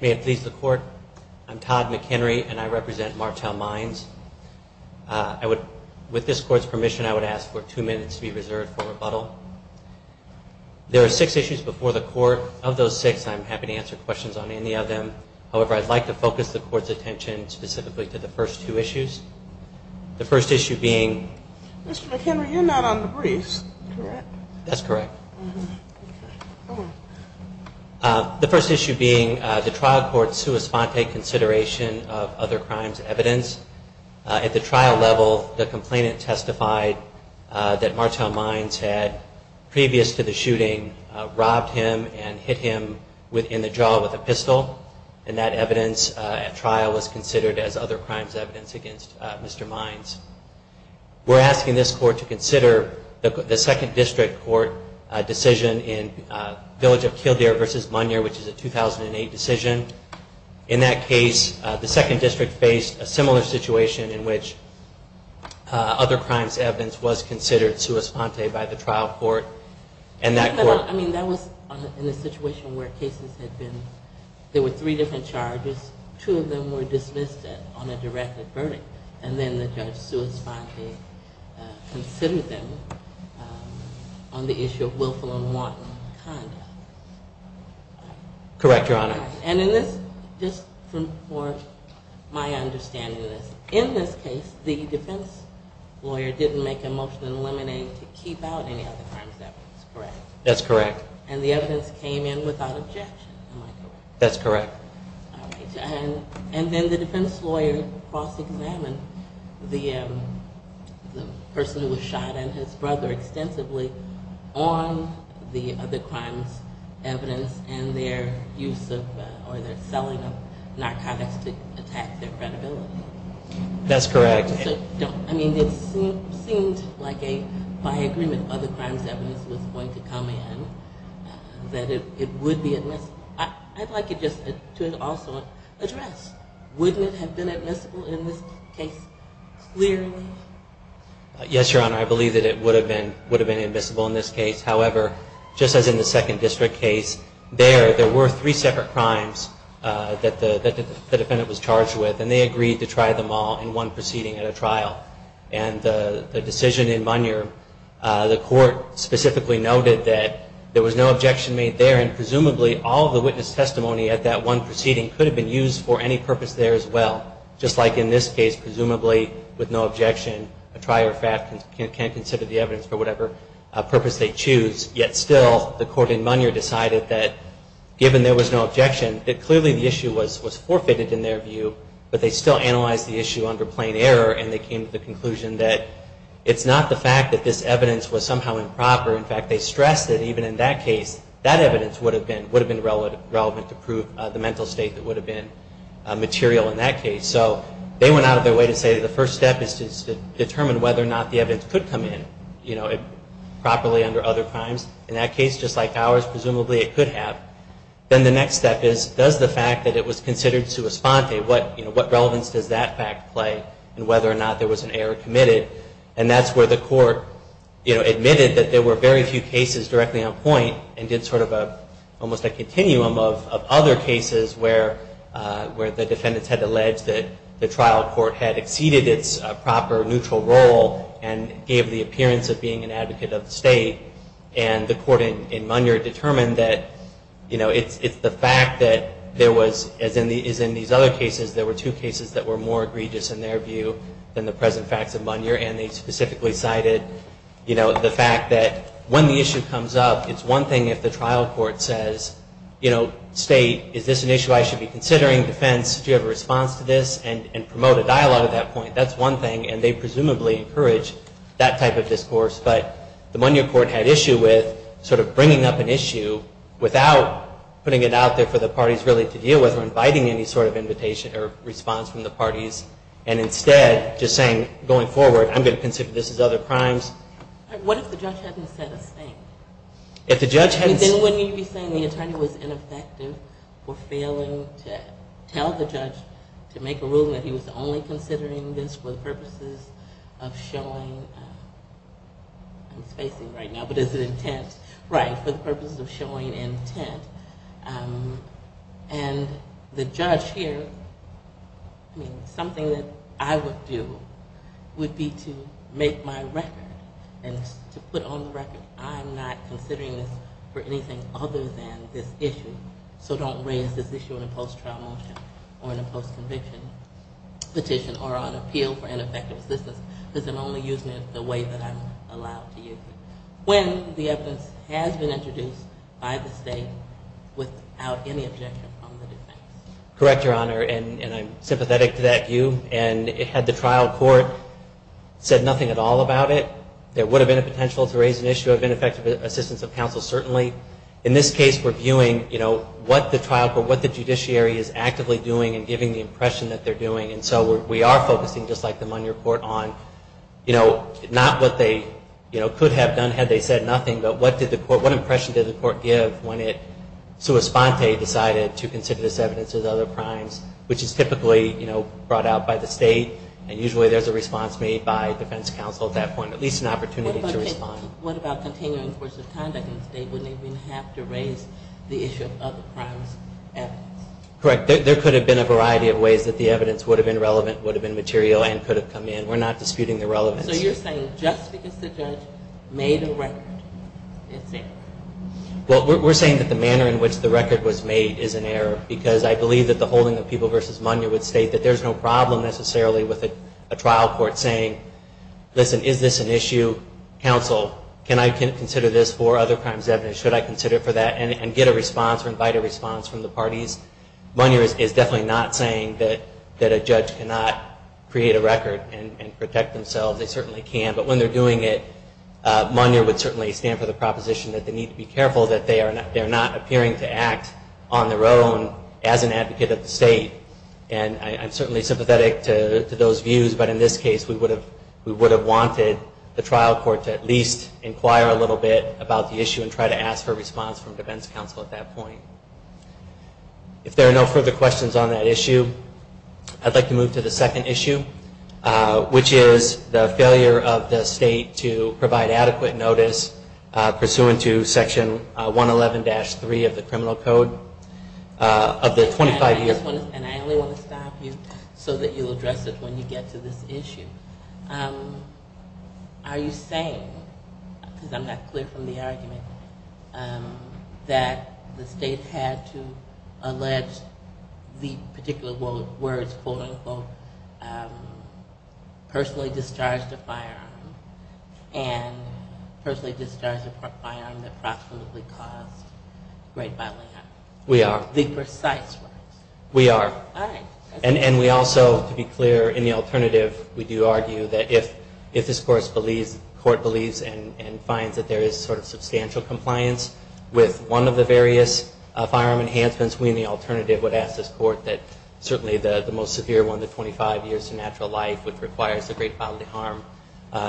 May it please the Court, I'm Todd McHenry and I represent Martel Mines. With this Court's permission I would ask for two minutes to be reserved for rebuttal. There are six issues before the Court. Of those six, I'm happy to answer questions on any of them. However, I'd like to focus the Court's attention specifically to the first two issues. The first issue being the trial court's sua sponte consideration of other crimes evidence. At the trial level the complainant testified that Martel Mines had, previous to the shooting, robbed him and hit him in the jaw with a pistol and that evidence at trial was considered as other crimes evidence against Mr. Mines. We're asking this Court to consider the second district court decision in Village of Kildare v. Monier, which is a 2008 decision. In that case, the second district faced a similar situation in which other crimes evidence was considered sua sponte by the trial court. I mean, that was in a situation where cases had been, there were three different charges, two of them were dismissed on a directed verdict and then the judge sua sponte considered them on the issue of willful and the defense lawyer didn't make a motion to eliminate to keep out any other crimes evidence, correct? That's correct. And the evidence came in without objection, am I correct? That's correct. And then the defense lawyer cross-examined the person who was shot and his brother extensively on the other crimes evidence and their use of, or their selling of narcotics to attack their credibility. That's correct. I mean, it seemed like a, by agreement, other crimes evidence was going to come in that it would be admissible. I'd like to just also address, wouldn't it have been admissible in this case clearly? Yes, Your Honor, I believe that it would have been admissible in this case. However, just as in the second district case, there, there were three separate crimes that the defendant was charged with and they agreed to try them all in one proceeding at a trial. And the decision in Munyer, the court specifically noted that there was no objection made there and presumably all the witness testimony at that one proceeding could have been used for any purpose there as well, just like in this case, presumably with no objection, a trier of fact can consider the evidence for whatever purpose they choose. Yet still, the court in Munyer decided that given there was no objection, that clearly the issue was forfeited in their view, but they still analyzed the issue under plain error and they came to the conclusion that it's not the fact that this evidence was somehow improper. In fact, they stressed that even in that case, that evidence would have been relevant to prove the mental state that would have been material in that case. So they went out of their way to say that the first step is to determine whether or not the evidence could come in properly under other crimes. In that case, just like ours, presumably it could have. Then the next step is, does the fact that it was considered sua sponte, what relevance does that fact play in whether or not there was an error committed? And that's where the court admitted that there were very few cases directly on point and did sort of a, almost a continuum of other cases where the defendants had alleged that the trial court had exceeded its proper neutral role and gave the appearance of being an advocate of the state. And the court in Munyer determined that it's the fact that there was, as in these other cases, there were two cases that were more egregious in their view than the present facts of Munyer. And they specifically cited, you know, the fact that when the issue comes up, it's one thing if the trial court says, you know, state, is this an issue I should be considering? Defense, do you have a response to this? And promote a dialogue at that point. That's one thing. And they presumably encouraged that type of discourse. But the Munyer court had issue with sort of bringing up an issue without putting it out there for the parties really to deal with or inviting any sort of invitation or response from the parties. And instead just saying, going forward, I'm going to consider this as other crimes. What if the judge hadn't said a thing? If the judge hadn't... Then wouldn't he be saying the attorney was ineffective for failing to tell the judge to make a ruling that he was only considering this for the purposes of showing intent? And the judge here, I mean, something that I would do would be to make my record and to put on the record, I'm not considering this for anything other than this issue. So don't raise this issue in a post-trial motion or in a post-conviction petition or on appeal for ineffective assistance because I'm only using it the way that I'm allowed to use it. When the evidence has been introduced by the state without any objection from the defense. Correct, Your Honor. And I'm sympathetic to that view. And had the trial court said nothing at all about it, there would have been a potential to raise an issue of ineffective assistance of counsel, certainly. In this case, we're viewing what the trial court, what the judiciary is actively doing and giving the impression that they're doing. And so we are focusing, just like the Monier Court, on not what they could have done had they said nothing, but what impression did the court give when it, sua sponte, decided to consider this evidence as other crimes, which is typically brought out by the state. And usually there's a response made by defense counsel at that point, at least an opportunity to respond. What about continuing coercive conduct in the state? Wouldn't it have to raise the issue of other crimes? Correct. There could have been a variety of ways that the evidence would have been relevant, would have been material, and could have come in. We're not disputing the relevance. So you're saying just because the judge made a record, it's an error? Well, we're saying that the manner in which the record was made is an error because I believe that the holding of people versus Monier would state that there's no problem necessarily with a trial court saying, listen, is this an issue, counsel, can I consider this for other crimes evidence, should I consider it for that, and get a response or invite a response from the parties. Monier is definitely not saying that a judge cannot create a record and protect themselves. They certainly can. But when they're doing it, Monier would certainly stand for the proposition that they need to be careful that they're not appearing to act on their own as an advocate of the state. And I'm certainly sympathetic to those views, but in this case we would have wanted the trial court to at least inquire a little bit about the record and ask for a response from defense counsel at that point. If there are no further questions on that issue, I'd like to move to the second issue, which is the failure of the state to provide adequate notice pursuant to Section 111-3 of the Criminal Code of the 25-year-old... And I only want to stop you so that you'll address it when you get to this issue. Are you saying, because I'm not clear from the record, that the state had to allege the particular words, quote-unquote, personally discharged a firearm, and personally discharged a firearm that proximately caused rape by layup? We are. The precise words. We are. All right. And we also, to be clear, in the alternative, we do argue that if this court believes and finds that there is sort of substantial compliance with one of the various firearm enhancements, we in the alternative would ask this court that certainly the most severe one, the 25 years to natural life, which requires the great bodily harm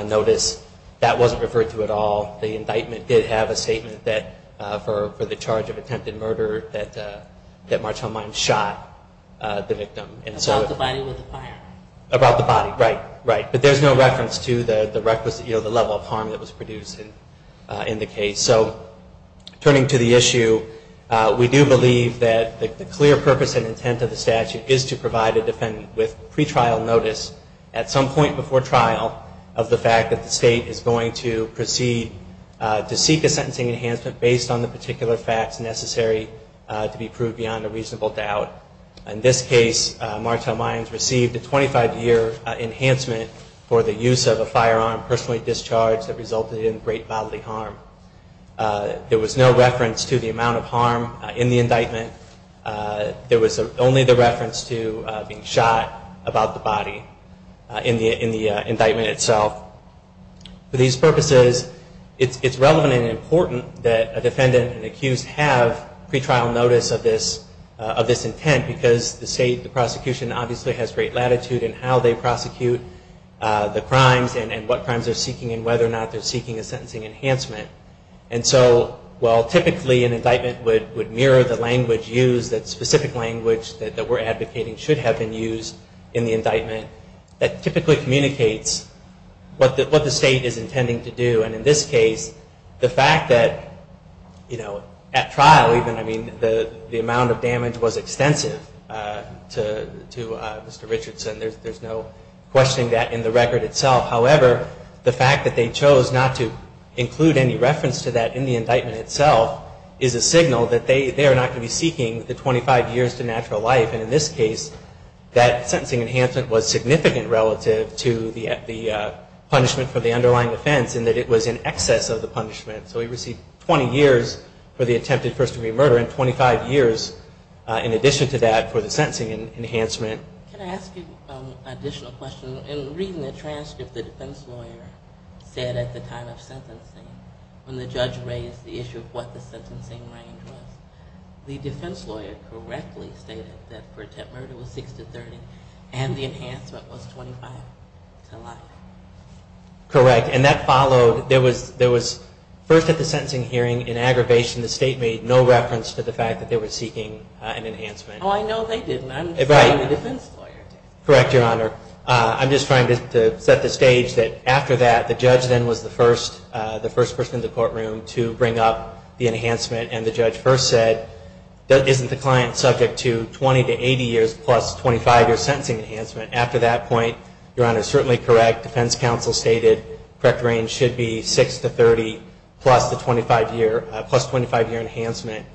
notice, that wasn't referred to at all. The indictment did have a statement that for the charge of attempted murder that Marchall Mines shot the victim. About the body with the firearm. Turning to the issue, we do believe that the clear purpose and intent of the statute is to provide a defendant with pretrial notice at some point before trial of the fact that the state is going to proceed to seek a sentencing enhancement based on the particular facts necessary to be proved beyond a reasonable doubt. In this case, Marchall Mines received a 25-year enhancement for the use of a firearm personally discharged that resulted in great bodily harm. There was no reference to the amount of harm in the indictment. There was only the reference to being shot about the body in the indictment itself. For these purposes, it's relevant and important that a defendant and accused have pretrial notice of this intent because the state, the prosecution, obviously has great latitude in how they prosecute the crimes and what crimes they're seeking and whether or not they're seeking a And so while typically an indictment would mirror the language used, that specific language that we're advocating should have been used in the indictment, that typically communicates what the state is intending to do. And in this case, the fact that, you know, at trial even, I mean, the amount of damage was extensive to Mr. Richardson. There's no questioning that in the record itself. However, the fact that they chose not to include any reference to that in the indictment itself is a signal that they are not going to be seeking the 25 years to natural life. And in this case, that sentencing enhancement was significant relative to the punishment for the underlying offense in that it was in excess of the punishment. So he received 20 years for the attempted first-degree murder and 25 years in addition to that for the sentencing enhancement. Can I ask you an additional question? In reading the transcript, the defense lawyer said at the time of sentencing, when the judge raised the issue of what the sentencing range was, the defense lawyer correctly stated that for attempted murder it was 6 to 30 and the enhancement was 25 to life. Correct. And that followed, there was first at the sentencing hearing, in aggravation, the state made no reference to the fact that they were seeking an enhancement. Oh, I know they didn't. I'm the defense lawyer. Correct, Your Honor. I'm just trying to set the stage that after that, the judge then was the first person in the courtroom to bring up the enhancement. And the judge first said, isn't the client subject to 20 to 80 years plus 25-year sentencing enhancement? After that point, Your Honor, certainly correct. Defense counsel stated correct range should be 6 to 30 plus the 25-year enhancement.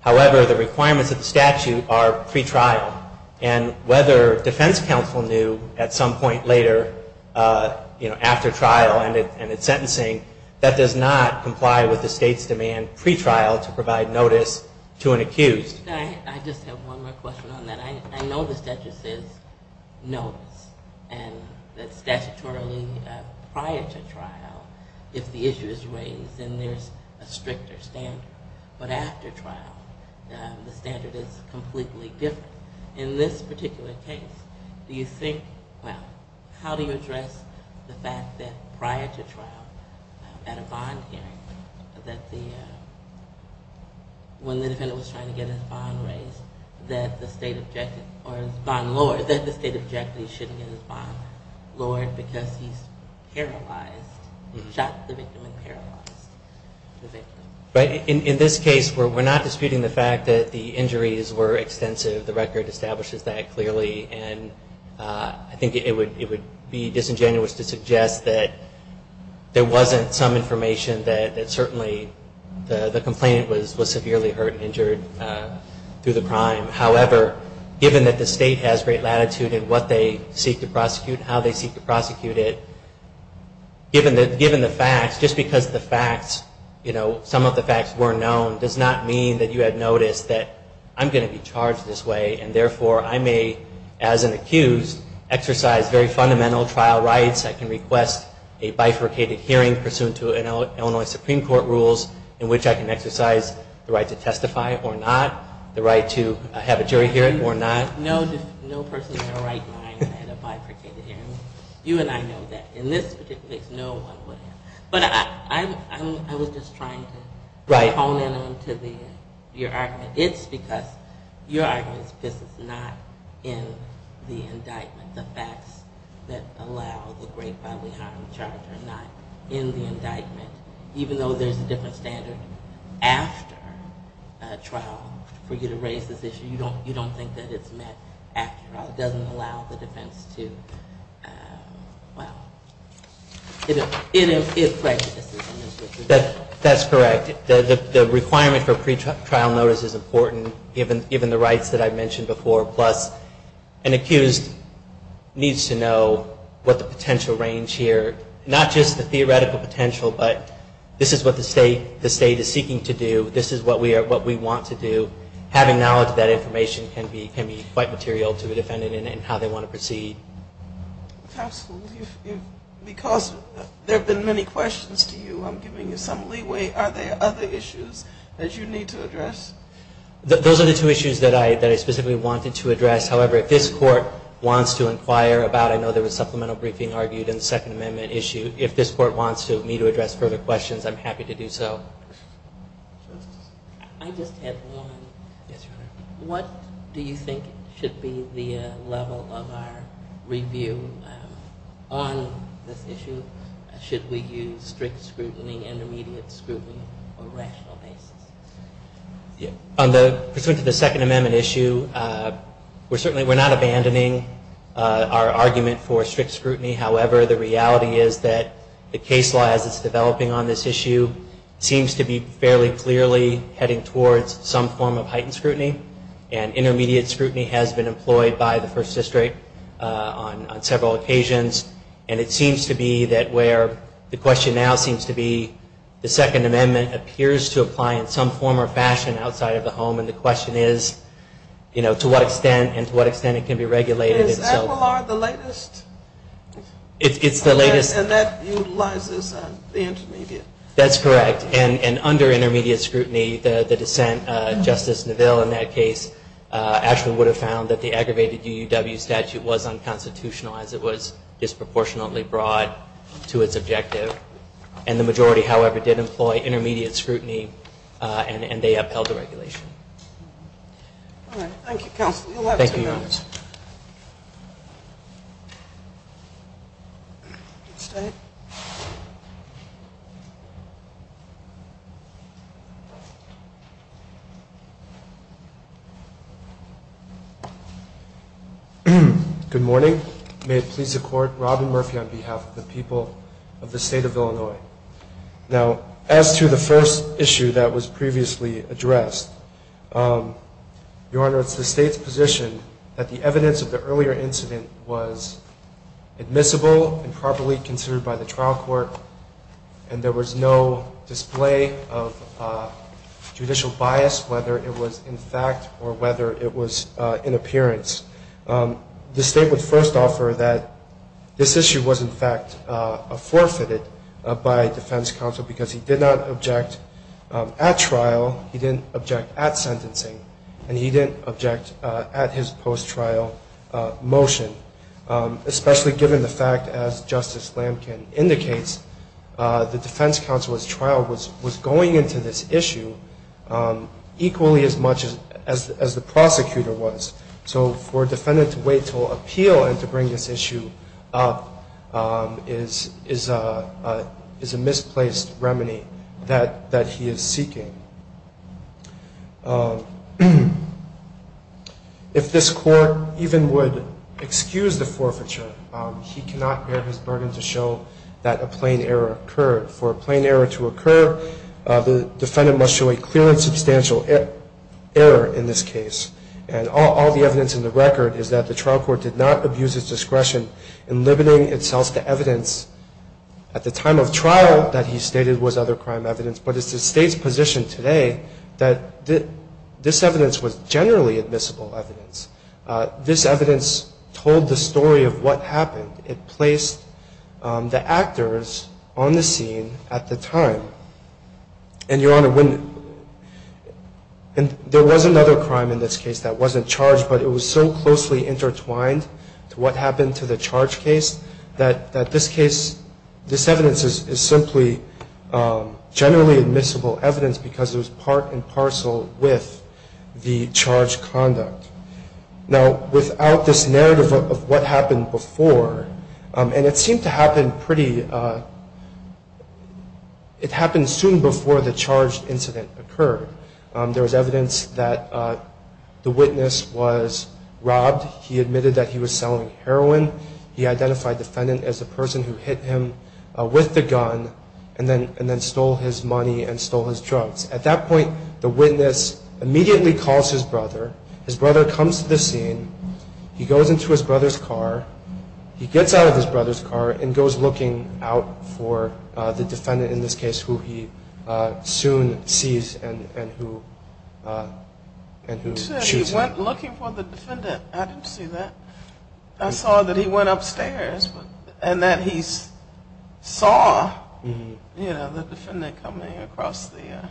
However, the requirements of the statute are pretrial. And whether defense counsel knew at some point later, you know, after trial and at sentencing, that does not comply with the state's demand pretrial to provide notice to an accused. I just have one more question on that. I know the statute says notice and that statutorily prior to trial, if the issue is raised, then there's a stricter standard. But after trial, the standard is completely different. In this particular case, do you think, well, how do you address the fact that prior to trial, at a bond hearing, that the, when the defendant was trying to get his bond raised, that the state objected, or his bond lowered, that the state objected he shouldn't get his bond lowered because he's paralyzed, shot the victim and paralyzed the victim? But in this case, we're not disputing the fact that the injuries were extensive. The record establishes that clearly. And I think it would be disingenuous to suggest that there wasn't some information that certainly the complainant was severely hurt and injured through the crime. However, given that the state has great latitude in what they seek to prosecute and how they seek to prosecute it, given the facts, just because the facts, you know, some of the facts were known, does not mean that you had noticed that I'm going to be charged this way and therefore I may, as an accused, exercise very fundamental trial rights. I can request a bifurcated hearing pursuant to Illinois Supreme Court rules in which I can exercise the right to testify or not, the right to have a jury hearing or not. No person in their right mind had a bifurcated hearing. You and I know that. In this particular case, no one would have. But I was just trying to hone in on to your argument. It's because your argument is not in the indictment. The facts that allow the great bodily harm charge are not in the indictment. Even though there's a different standard after a trial for you to raise this issue, you don't think that it's met after a trial. It doesn't allow the defense to, well, it prejudices. That's correct. The requirement for pretrial notice is important, given the rights that I mentioned before. Plus, an accused needs to know what the potential range here, not just the theoretical potential, but this is what the state is seeking to do. This is what we want to do. Having knowledge of that information can be quite material to a defendant in how they want to proceed. Counsel, because there have been many questions to you, I'm giving you some leeway. Are there other issues that you need to address? Those are the two issues that I specifically wanted to address. However, if this Court wants to inquire about, I know there was supplemental briefing argued in the Second Amendment issue. If this Court wants me to address further questions, I'm happy to do so. I just have one. Yes, Your Honor. What do you think should be the level of our review on this issue? Should we use strict scrutiny, intermediate scrutiny, or rational basis? On the, pursuant to the Second Amendment issue, we're certainly, we're not abandoning our argument for strict scrutiny. However, the reality is that the case law, as it's developing on this issue, seems to be fairly clearly heading towards some form of heightened scrutiny. And intermediate scrutiny has been employed by the First District on several occasions. And it seems to be that where the question now seems to be, the Second Amendment appears to apply in some form or fashion outside of the home. And the question is, you know, to what extent and to what extent it can be regulated. Is Aguilar the latest? It's the latest. And that utilizes the intermediate. That's correct. And under intermediate scrutiny, the dissent, Justice Neville, in that case, actually would have found that the aggravated UUW statute was unconstitutional, as it was disproportionately broad to its objective. And the majority, however, did employ intermediate scrutiny, and they upheld the regulation. All right. Thank you, Counsel. Thank you, Your Honor. Good morning. May it please the Court, Robin Murphy on behalf of the people of the State of Illinois. Now, as to the first issue that was previously addressed, Your Honor, it's the State's position that the evidence of the earlier incident was admissible and properly considered by the trial court, and there was no display of judicial bias, whether it was in fact or whether it was in appearance. The State would first offer that this issue was in fact forfeited by defense counsel because he did not object at trial, he didn't object at sentencing, and he didn't object at his post-trial motion, especially given the fact, as Justice Lamkin indicates, the defense counsel's trial was going into this issue equally as much as the prosecutor was. So for a defendant to wait until appeal and to bring this issue up is a misplaced remedy that he is seeking. If this Court even would excuse the forfeiture, he cannot bear his burden to show that a plain error occurred. For a plain error to occur, the defendant must show a clear and substantial error in this case. And all the evidence in the record is that the trial court did not abuse its discretion in limiting itself to evidence at the time of trial that he stated was other crime evidence, but it's the State's position today that this evidence was generally admissible evidence. This evidence told the story of what happened. It placed the actors on the scene at the time. And, Your Honor, there was another crime in this case that wasn't charged, but it was so closely intertwined to what happened to the charge case that this case, this evidence is simply generally admissible evidence because it was part and parcel with the charge conduct. Now, without this narrative of what happened before, and it seemed to happen pretty, it happened soon before the charge incident occurred. There was evidence that the witness was robbed. He admitted that he was selling heroin. He identified the defendant as the person who hit him with the gun and then stole his money and stole his drugs. At that point, the witness immediately calls his brother. His brother comes to the scene. He goes into his brother's car. He gets out of his brother's car and goes looking out for the defendant, in this case, who he soon sees and who shoots him. You said he went looking for the defendant. I didn't see that. I saw that he went upstairs and that he saw the defendant coming across the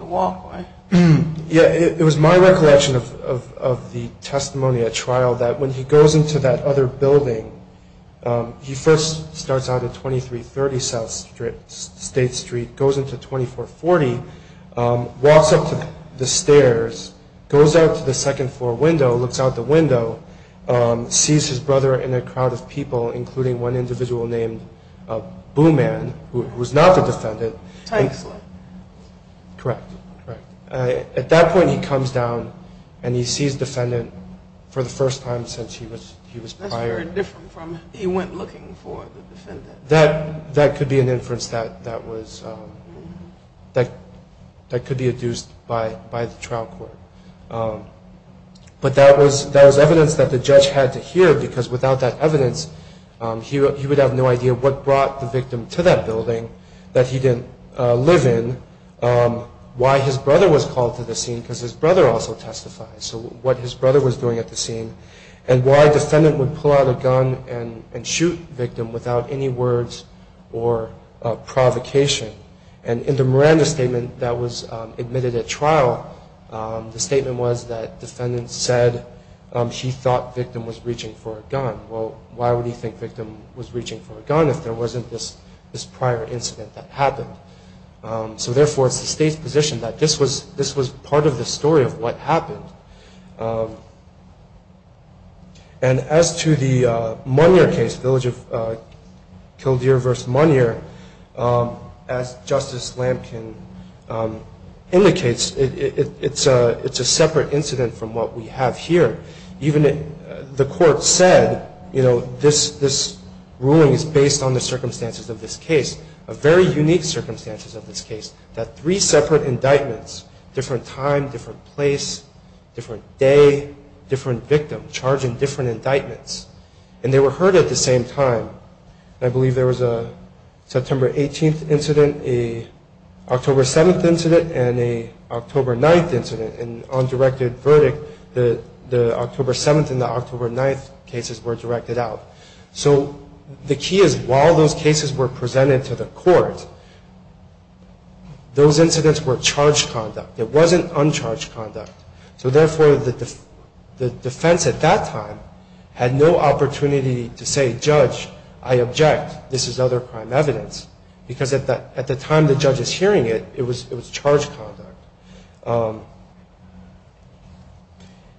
walkway. It was my recollection of the testimony at trial that when he goes into that other building, he first starts out at 2330 South State Street, goes into 2440, walks up to the stairs, goes out to the second floor window, looks out the window, sees his brother in a crowd of people, including one individual named Boo Man, who was not the defendant. Tanksley. Correct. At that point, he comes down and he sees the defendant for the first time since he was prior. That's very different from he went looking for the defendant. That could be an inference that could be adduced by the trial court. But that was evidence that the judge had to hear because without that evidence, he would have no idea what brought the victim to that building that he didn't live in, why his brother was called to the scene because his brother also testified, so what his brother was doing at the scene, and why a defendant would pull out a gun and shoot a victim without any words or provocation. And in the Miranda statement that was admitted at trial, the statement was that the defendant said he thought the victim was reaching for a gun. Well, why would he think the victim was reaching for a gun if there wasn't this prior incident that happened? So, therefore, it's the state's position that this was part of the story of what happened. And as to the Munyer case, the Kildeer v. Munyer, as Justice Lamkin indicates, it's a separate incident from what we have here. Even the court said, you know, this ruling is based on the circumstances of this case, a very unique circumstances of this case, that three separate indictments, different time, different place, different day, different victim, charging different indictments, and they were heard at the same time. I believe there was a September 18th incident, a October 7th incident, and a October 9th incident, an undirected verdict, the October 7th and the October 9th cases were directed out. So the key is while those cases were presented to the court, those incidents were charged conduct. It wasn't uncharged conduct. So, therefore, the defense at that time had no opportunity to say, judge, I object, this is other crime evidence, because at the time the judge is hearing it, it was charged conduct.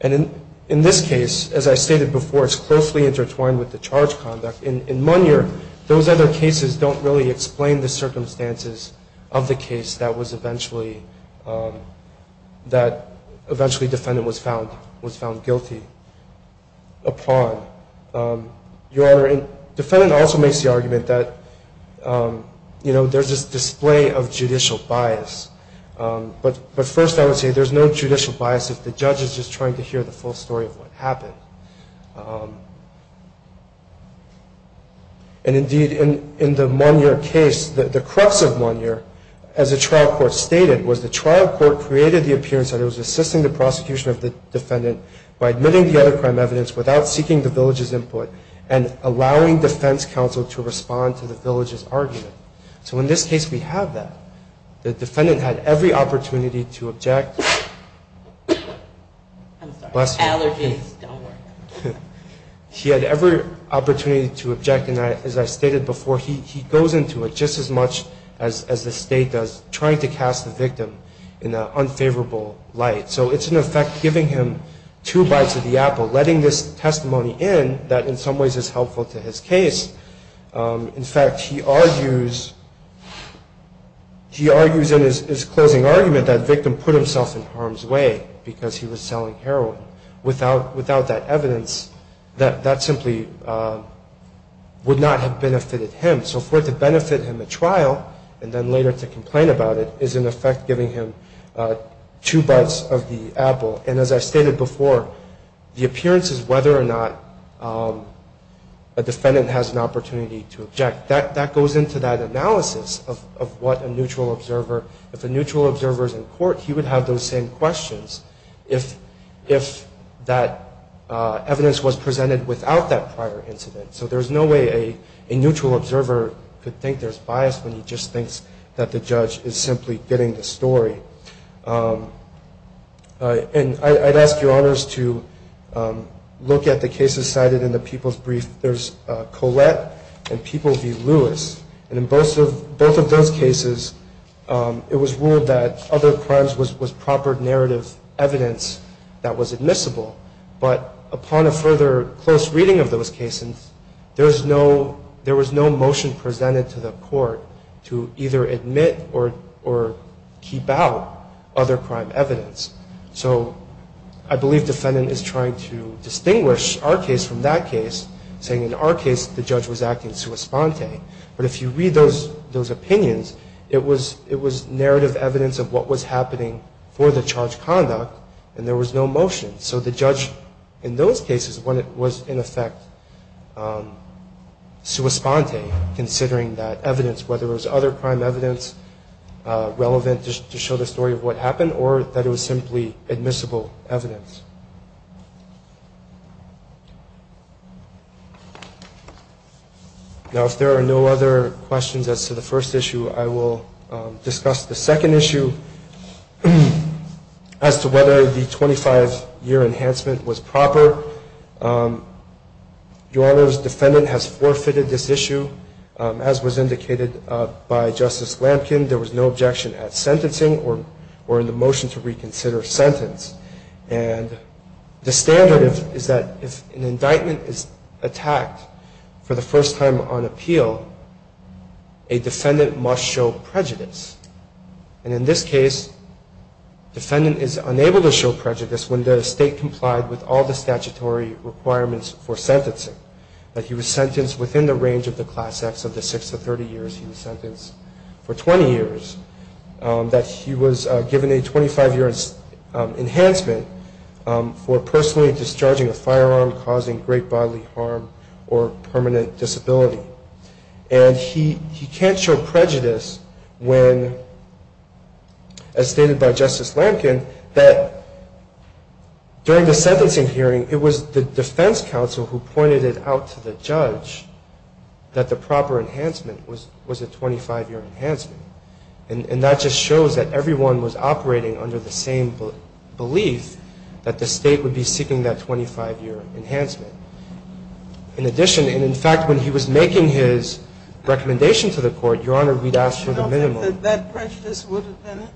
And in this case, as I stated before, it's closely intertwined with the charged conduct. In Munyer, those other cases don't really explain the circumstances of the case that was eventually, that eventually defendant was found guilty upon. Your Honor, defendant also makes the argument that, you know, there's this display of judicial bias. But first I would say there's no judicial bias if the judge is just trying to hear the full story of what happened. And, indeed, in the Munyer case, the crux of Munyer, as the trial court stated, was the trial court created the appearance that it was assisting the prosecution of the defendant by admitting the other crime evidence without seeking the village's input and allowing defense counsel to respond to the village's argument. So in this case we have that. The defendant had every opportunity to object. I'm sorry. Allergies don't work. He had every opportunity to object. And, as I stated before, he goes into it just as much as the state does, trying to cast the victim in an unfavorable light. So it's, in effect, giving him two bites of the apple, letting this testimony in that in some ways is helpful to his case. In fact, he argues in his closing argument that the victim put himself in harm's way because he was selling heroin. Without that evidence, that simply would not have benefited him. So for it to benefit him at trial and then later to complain about it is, in effect, giving him two bites of the apple. And, as I stated before, the appearance is whether or not a defendant has an opportunity to object. That goes into that analysis of what a neutral observer, if a neutral observer is in court he would have those same questions if that evidence was presented without that prior incident. So there's no way a neutral observer could think there's bias when he just thinks that the judge is simply getting the story. And I'd ask your honors to look at the cases cited in the People's Brief. There's Collette and People v. Lewis. And in both of those cases it was ruled that other crimes was proper narrative evidence that was admissible. But upon a further close reading of those cases, there was no motion presented to the court to either admit or keep out other crime evidence. So I believe defendant is trying to distinguish our case from that case, saying in our case the judge was acting sua sponte. But if you read those opinions, it was narrative evidence of what was happening for the charged conduct and there was no motion. So the judge in those cases was in effect sua sponte considering that evidence, whether it was other crime evidence relevant to show the story of what happened or that it was simply admissible evidence. Now if there are no other questions as to the first issue, I will discuss the second issue as to whether the 25-year enhancement was proper. Your honors, defendant has forfeited this issue as was indicated by Justice Lampkin. There was no objection at sentencing or in the motion to reconsider sentence. And the standard is that if an indictment is attacked for the first time on appeal, a defendant must show prejudice. And in this case, defendant is unable to show prejudice when the state complied with all the statutory requirements for sentencing. That he was sentenced within the range of the class acts of the 6 to 30 years he was sentenced for 20 years. That he was given a 25-year enhancement for personally discharging a firearm causing great bodily harm or permanent disability. And he can't show prejudice when, as stated by Justice Lampkin, that during the sentencing hearing it was the defense counsel who pointed it out to the judge that the proper enhancement was a 25-year enhancement. And that just shows that everyone was operating under the same belief that the state would be seeking that 25-year enhancement. In addition, and in fact, when he was making his recommendation to the court, your honor, we'd ask for the minimum. That prejudice would have been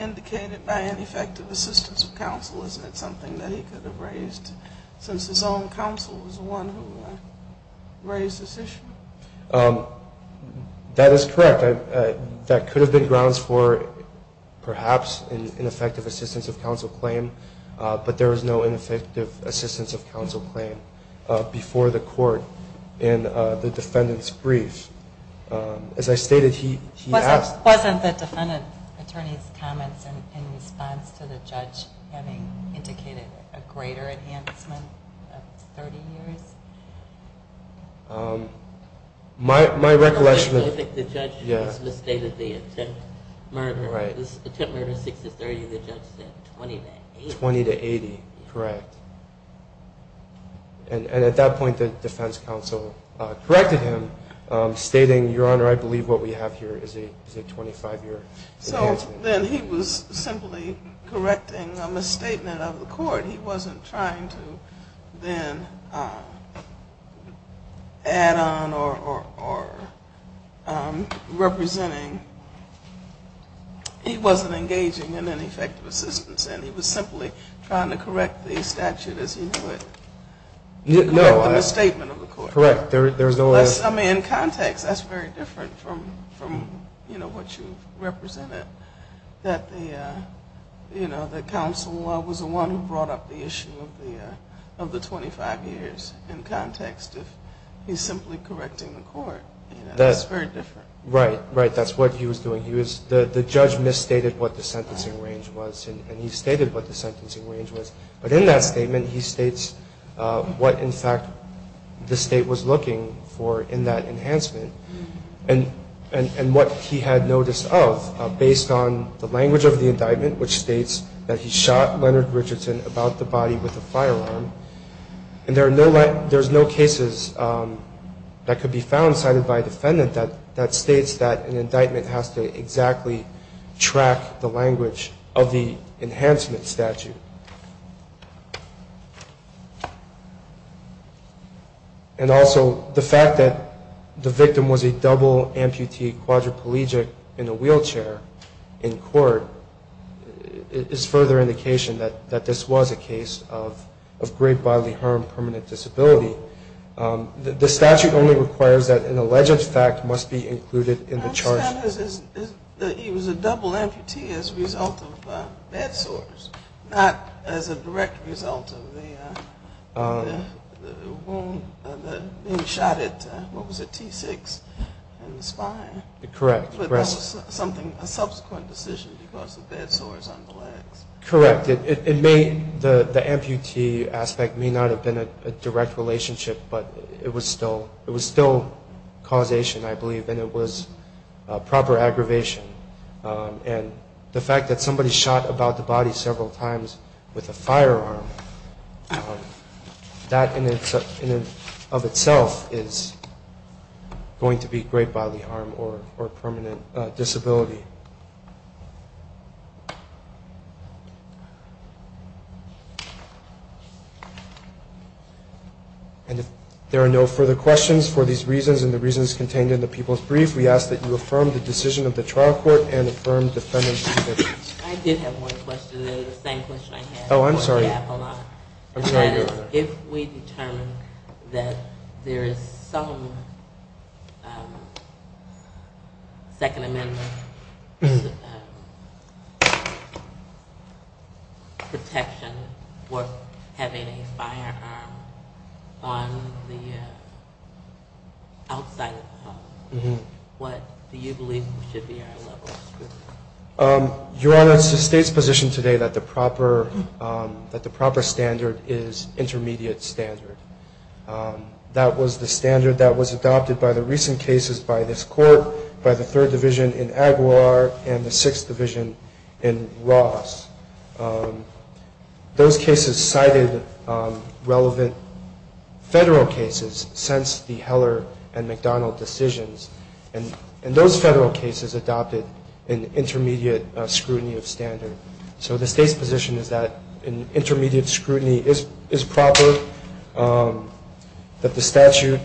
indicated by an effective assistance of counsel. Isn't it something that he could have raised since his own counsel was the one who raised this issue? That is correct. That could have been grounds for perhaps an effective assistance of counsel claim, but there was no effective assistance of counsel claim before the court in the defendant's brief. As I stated, he asked- Wasn't the defendant attorney's comments in response to the judge having indicated a greater enhancement of 30 years? My recollection of- I think the judge misstated the attempt murder. The attempt murder was 60-30 and the judge said 20-80. 20-80, correct. And at that point the defense counsel corrected him, stating, your honor, I believe what we have here is a 25-year enhancement. So then he was simply correcting a misstatement of the court. He wasn't trying to then add on or representing. He wasn't engaging in an effective assistance, and he was simply trying to correct the statute as he knew it. Correct the misstatement of the court. I mean, in context, that's very different from what you represented, that the counsel was the one who brought up the issue of the 25 years. In context, he's simply correcting the court. That's very different. Right, right. That's what he was doing. The judge misstated what the sentencing range was, and he stated what the sentencing range was. But in that statement he states what, in fact, the state was looking for in that enhancement. And what he had noticed of, based on the language of the indictment, which states that he shot Leonard Richardson about the body with a firearm, and there's no cases that could be found cited by a defendant that states that an indictment has to exactly track the language of the enhancement statute. And also the fact that the victim was a double amputee quadriplegic in a wheelchair in court is further indication that this was a case of great bodily harm, permanent disability. The statute only requires that an alleged fact must be included in the charge. I understand that he was a double amputee as a result of bed sores, not as a direct result of the wound being shot at, what was it, T6 in the spine. Correct. But that was a subsequent decision because of bed sores on the legs. Correct. The amputee aspect may not have been a direct relationship, but it was still causation, I believe, and it was proper aggravation. And the fact that somebody shot about the body several times with a firearm, that in and of itself is going to be great bodily harm or permanent disability. And if there are no further questions for these reasons and the reasons contained in the People's Brief, we ask that you affirm the decision of the trial court and affirm defendant's conviction. I did have one question, the same question I had. Oh, I'm sorry. Hold on. I'm sorry, go ahead. If we determine that there is some Second Amendment protection for having a firearm on the outside of the home, what do you believe should be our level of scrutiny? Your Honor, it's the state's position today that the proper standard is intermediate standard. That was the standard that was adopted by the recent cases by this court, by the 3rd Division in Aguilar and the 6th Division in Ross. Those cases cited relevant federal cases since the Heller and McDonald decisions, and those federal cases adopted an intermediate scrutiny of standard. So the state's position is that an intermediate scrutiny is proper, that the statute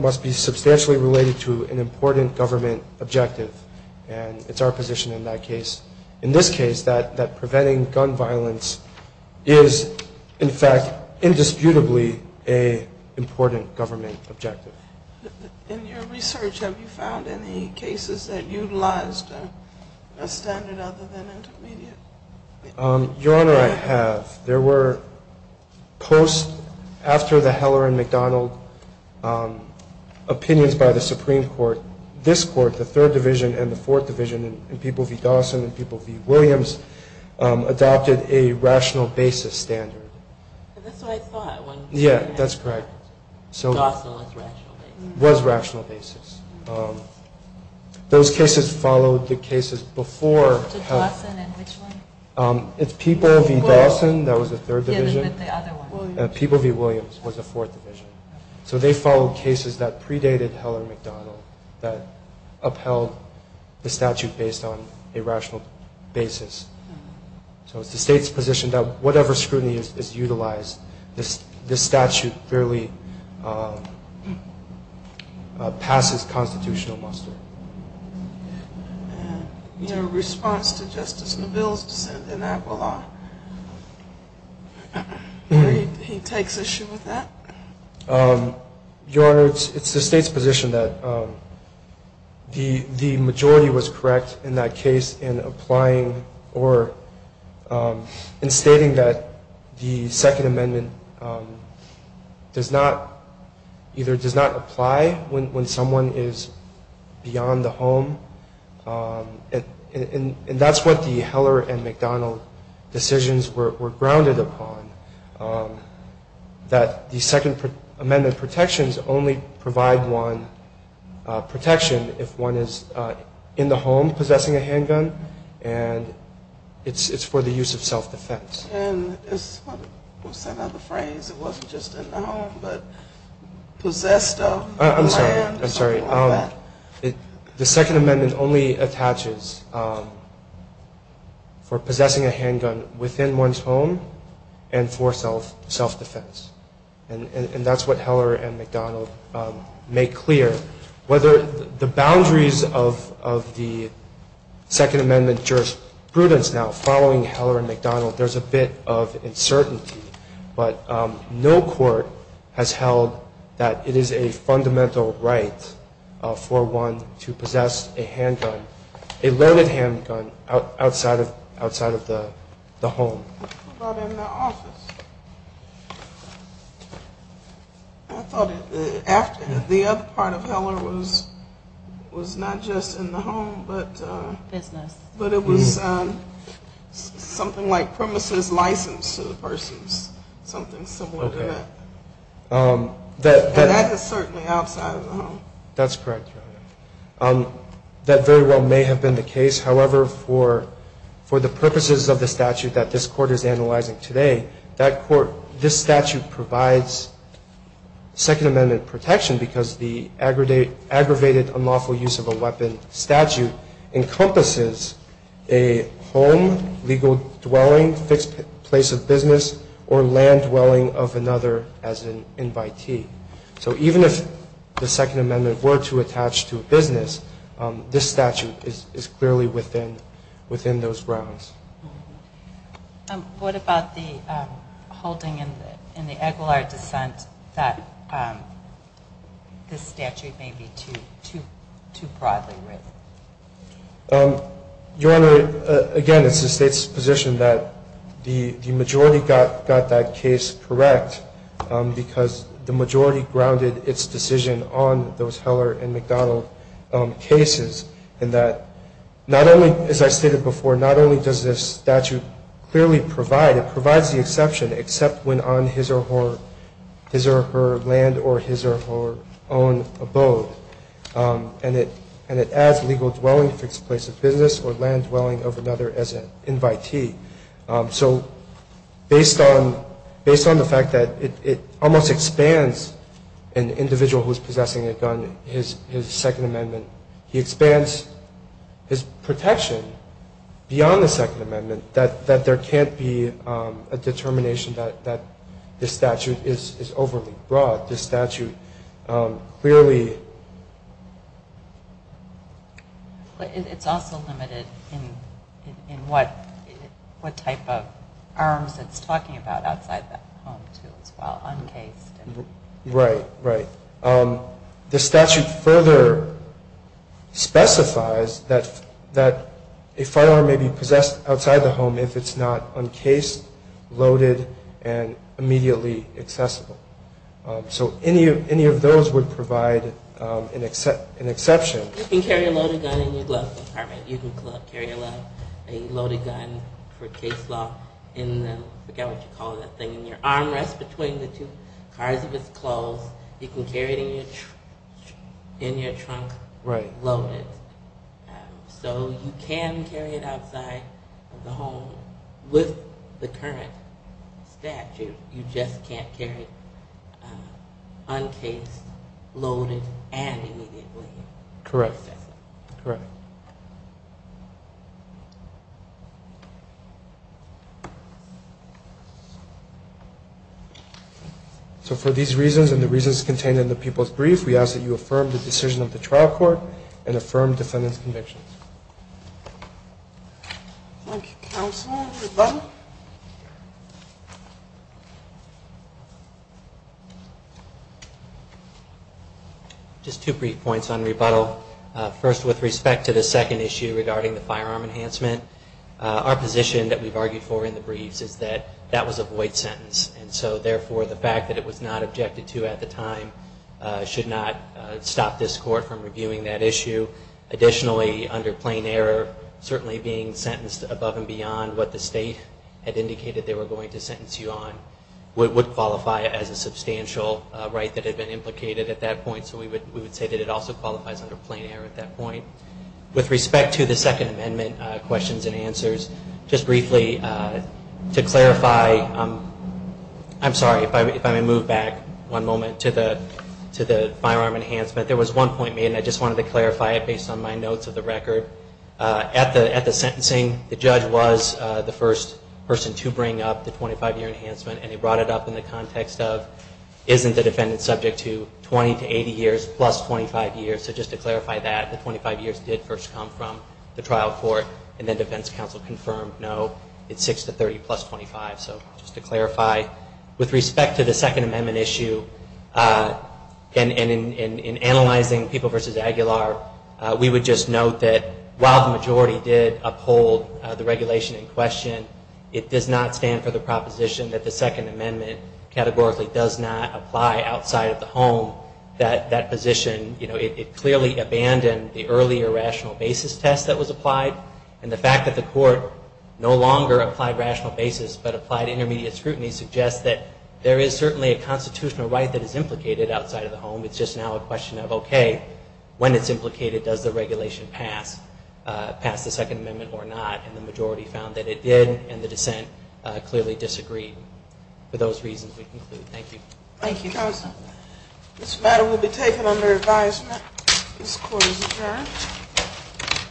must be substantially related to an important government objective. And it's our position in that case. In this case, that preventing gun violence is in fact indisputably an important government objective. In your research, have you found any cases that utilized a standard other than intermediate? Your Honor, I have. There were posts after the Heller and McDonald opinions by the Supreme Court. This court, the 3rd Division and the 4th Division, and people v. Dawson and people v. Williams, adopted a rational basis standard. That's what I thought. Yeah, that's correct. Dawson was rational basis. Was rational basis. Those cases followed the cases before... Dawson and which one? It's people v. Dawson, that was the 3rd Division. Yeah, but the other one. People v. Williams was the 4th Division. So they followed cases that predated Heller and McDonald, that upheld the statute based on a rational basis. So it's the state's position that whatever scrutiny is utilized, this statute fairly passes constitutional muster. And in response to Justice Neville's dissent in Aquila, he takes issue with that? Your Honor, it's the state's position that the majority was correct in that case in stating that the Second Amendment either does not apply when someone is beyond the home. And that's what the Heller and McDonald decisions were grounded upon. That the Second Amendment protections only provide one protection if one is in the home possessing a handgun. And it's for the use of self-defense. And what's that other phrase? It wasn't just in the home, but possessed of? I'm sorry, I'm sorry. The Second Amendment only attaches for possessing a handgun within one's home and for self-defense. And that's what Heller and McDonald make clear. Whether the boundaries of the Second Amendment jurisprudence now following Heller and McDonald, there's a bit of uncertainty. But no court has held that it is a fundamental right for one to possess a handgun, a loaded handgun, outside of the home. What about in the office? I thought the other part of Heller was not just in the home, but it was something like premises licensed to the persons, something similar to that. And that is certainly outside of the home. That's correct, Your Honor. That very well may have been the case. However, for the purposes of the statute that this Court is analyzing today, this statute provides Second Amendment protection because the aggravated unlawful use of a weapon statute encompasses a home, legal dwelling, fixed place of business, or land dwelling of another as an invitee. So even if the Second Amendment were to attach to a business, this statute is clearly within those grounds. What about the holding in the Aguilar dissent that this statute may be too broadly written? Your Honor, again, it's the State's position that the majority got that case correct because the majority grounded its decision on those Heller and McDonald cases and that not only, as I stated before, not only does this statute clearly provide, it provides the exception except when on his or her land or his or her own abode. And it adds legal dwelling, fixed place of business, or land dwelling of another as an invitee. So based on the fact that it almost expands an individual who is possessing a gun, his Second Amendment, he expands his protection beyond the Second Amendment that there can't be a determination that this statute is overly broad. This statute clearly... It's also limited in what type of arms it's talking about outside that home, too, as well, uncased. Right, right. The statute further specifies that a firearm may be possessed outside the home if it's not uncased, loaded, and immediately accessible. So any of those would provide an exception. You can carry a loaded gun in your glove compartment. You can carry a loaded gun for case law in the... As far as if it's closed, you can carry it in your trunk loaded. So you can carry it outside the home. With the current statute, you just can't carry it uncased, loaded, and immediately accessible. Correct. For these reasons and the reasons contained in the people's brief, we ask that you affirm the decision of the trial court and affirm defendant's convictions. Thank you, counsel. Rebuttal? Just two brief points on rebuttal. First, with respect to the second issue regarding the firearm enhancement, our position that we've argued for in the briefs is that that was a void sentence. And so, therefore, the fact that it was not objected to at the time should not stop this court from reviewing that issue. Additionally, under plain error, certainly being sentenced above and beyond what the state had indicated they were going to sentence you on would qualify as a substantial right that had been implicated at that point. So we would say that it also qualifies under plain error at that point. With respect to the Second Amendment questions and answers, just briefly to clarify, I'm sorry, if I may move back one moment to the firearm enhancement. There was one point made, and I just wanted to clarify it based on my notes of the record. At the sentencing, the judge was the first person to bring up the 25-year enhancement, and he brought it up in the context of isn't the defendant subject to 20 to 80 years plus 25 years? So just to clarify that, the 25 years did first come from the trial court, and then defense counsel confirmed, no, it's 6 to 30 plus 25. So just to clarify, with respect to the Second Amendment issue, and in analyzing People v. Aguilar, we would just note that while the majority did uphold the regulation in question, it does not stand for the proposition that the Second Amendment categorically does not apply outside of the home. That position, you know, it clearly abandoned the earlier rational basis test that was applied, and the fact that the court no longer applied rational basis but applied intermediate scrutiny suggests that there is certainly a constitutional right that is implicated outside of the home. It's just now a question of, okay, when it's implicated, does the regulation pass the Second Amendment or not? And the majority found that it did, and the dissent clearly disagreed. For those reasons, we conclude. Thank you. Thank you, counsel. This matter will be taken under advisement. This court is adjourned.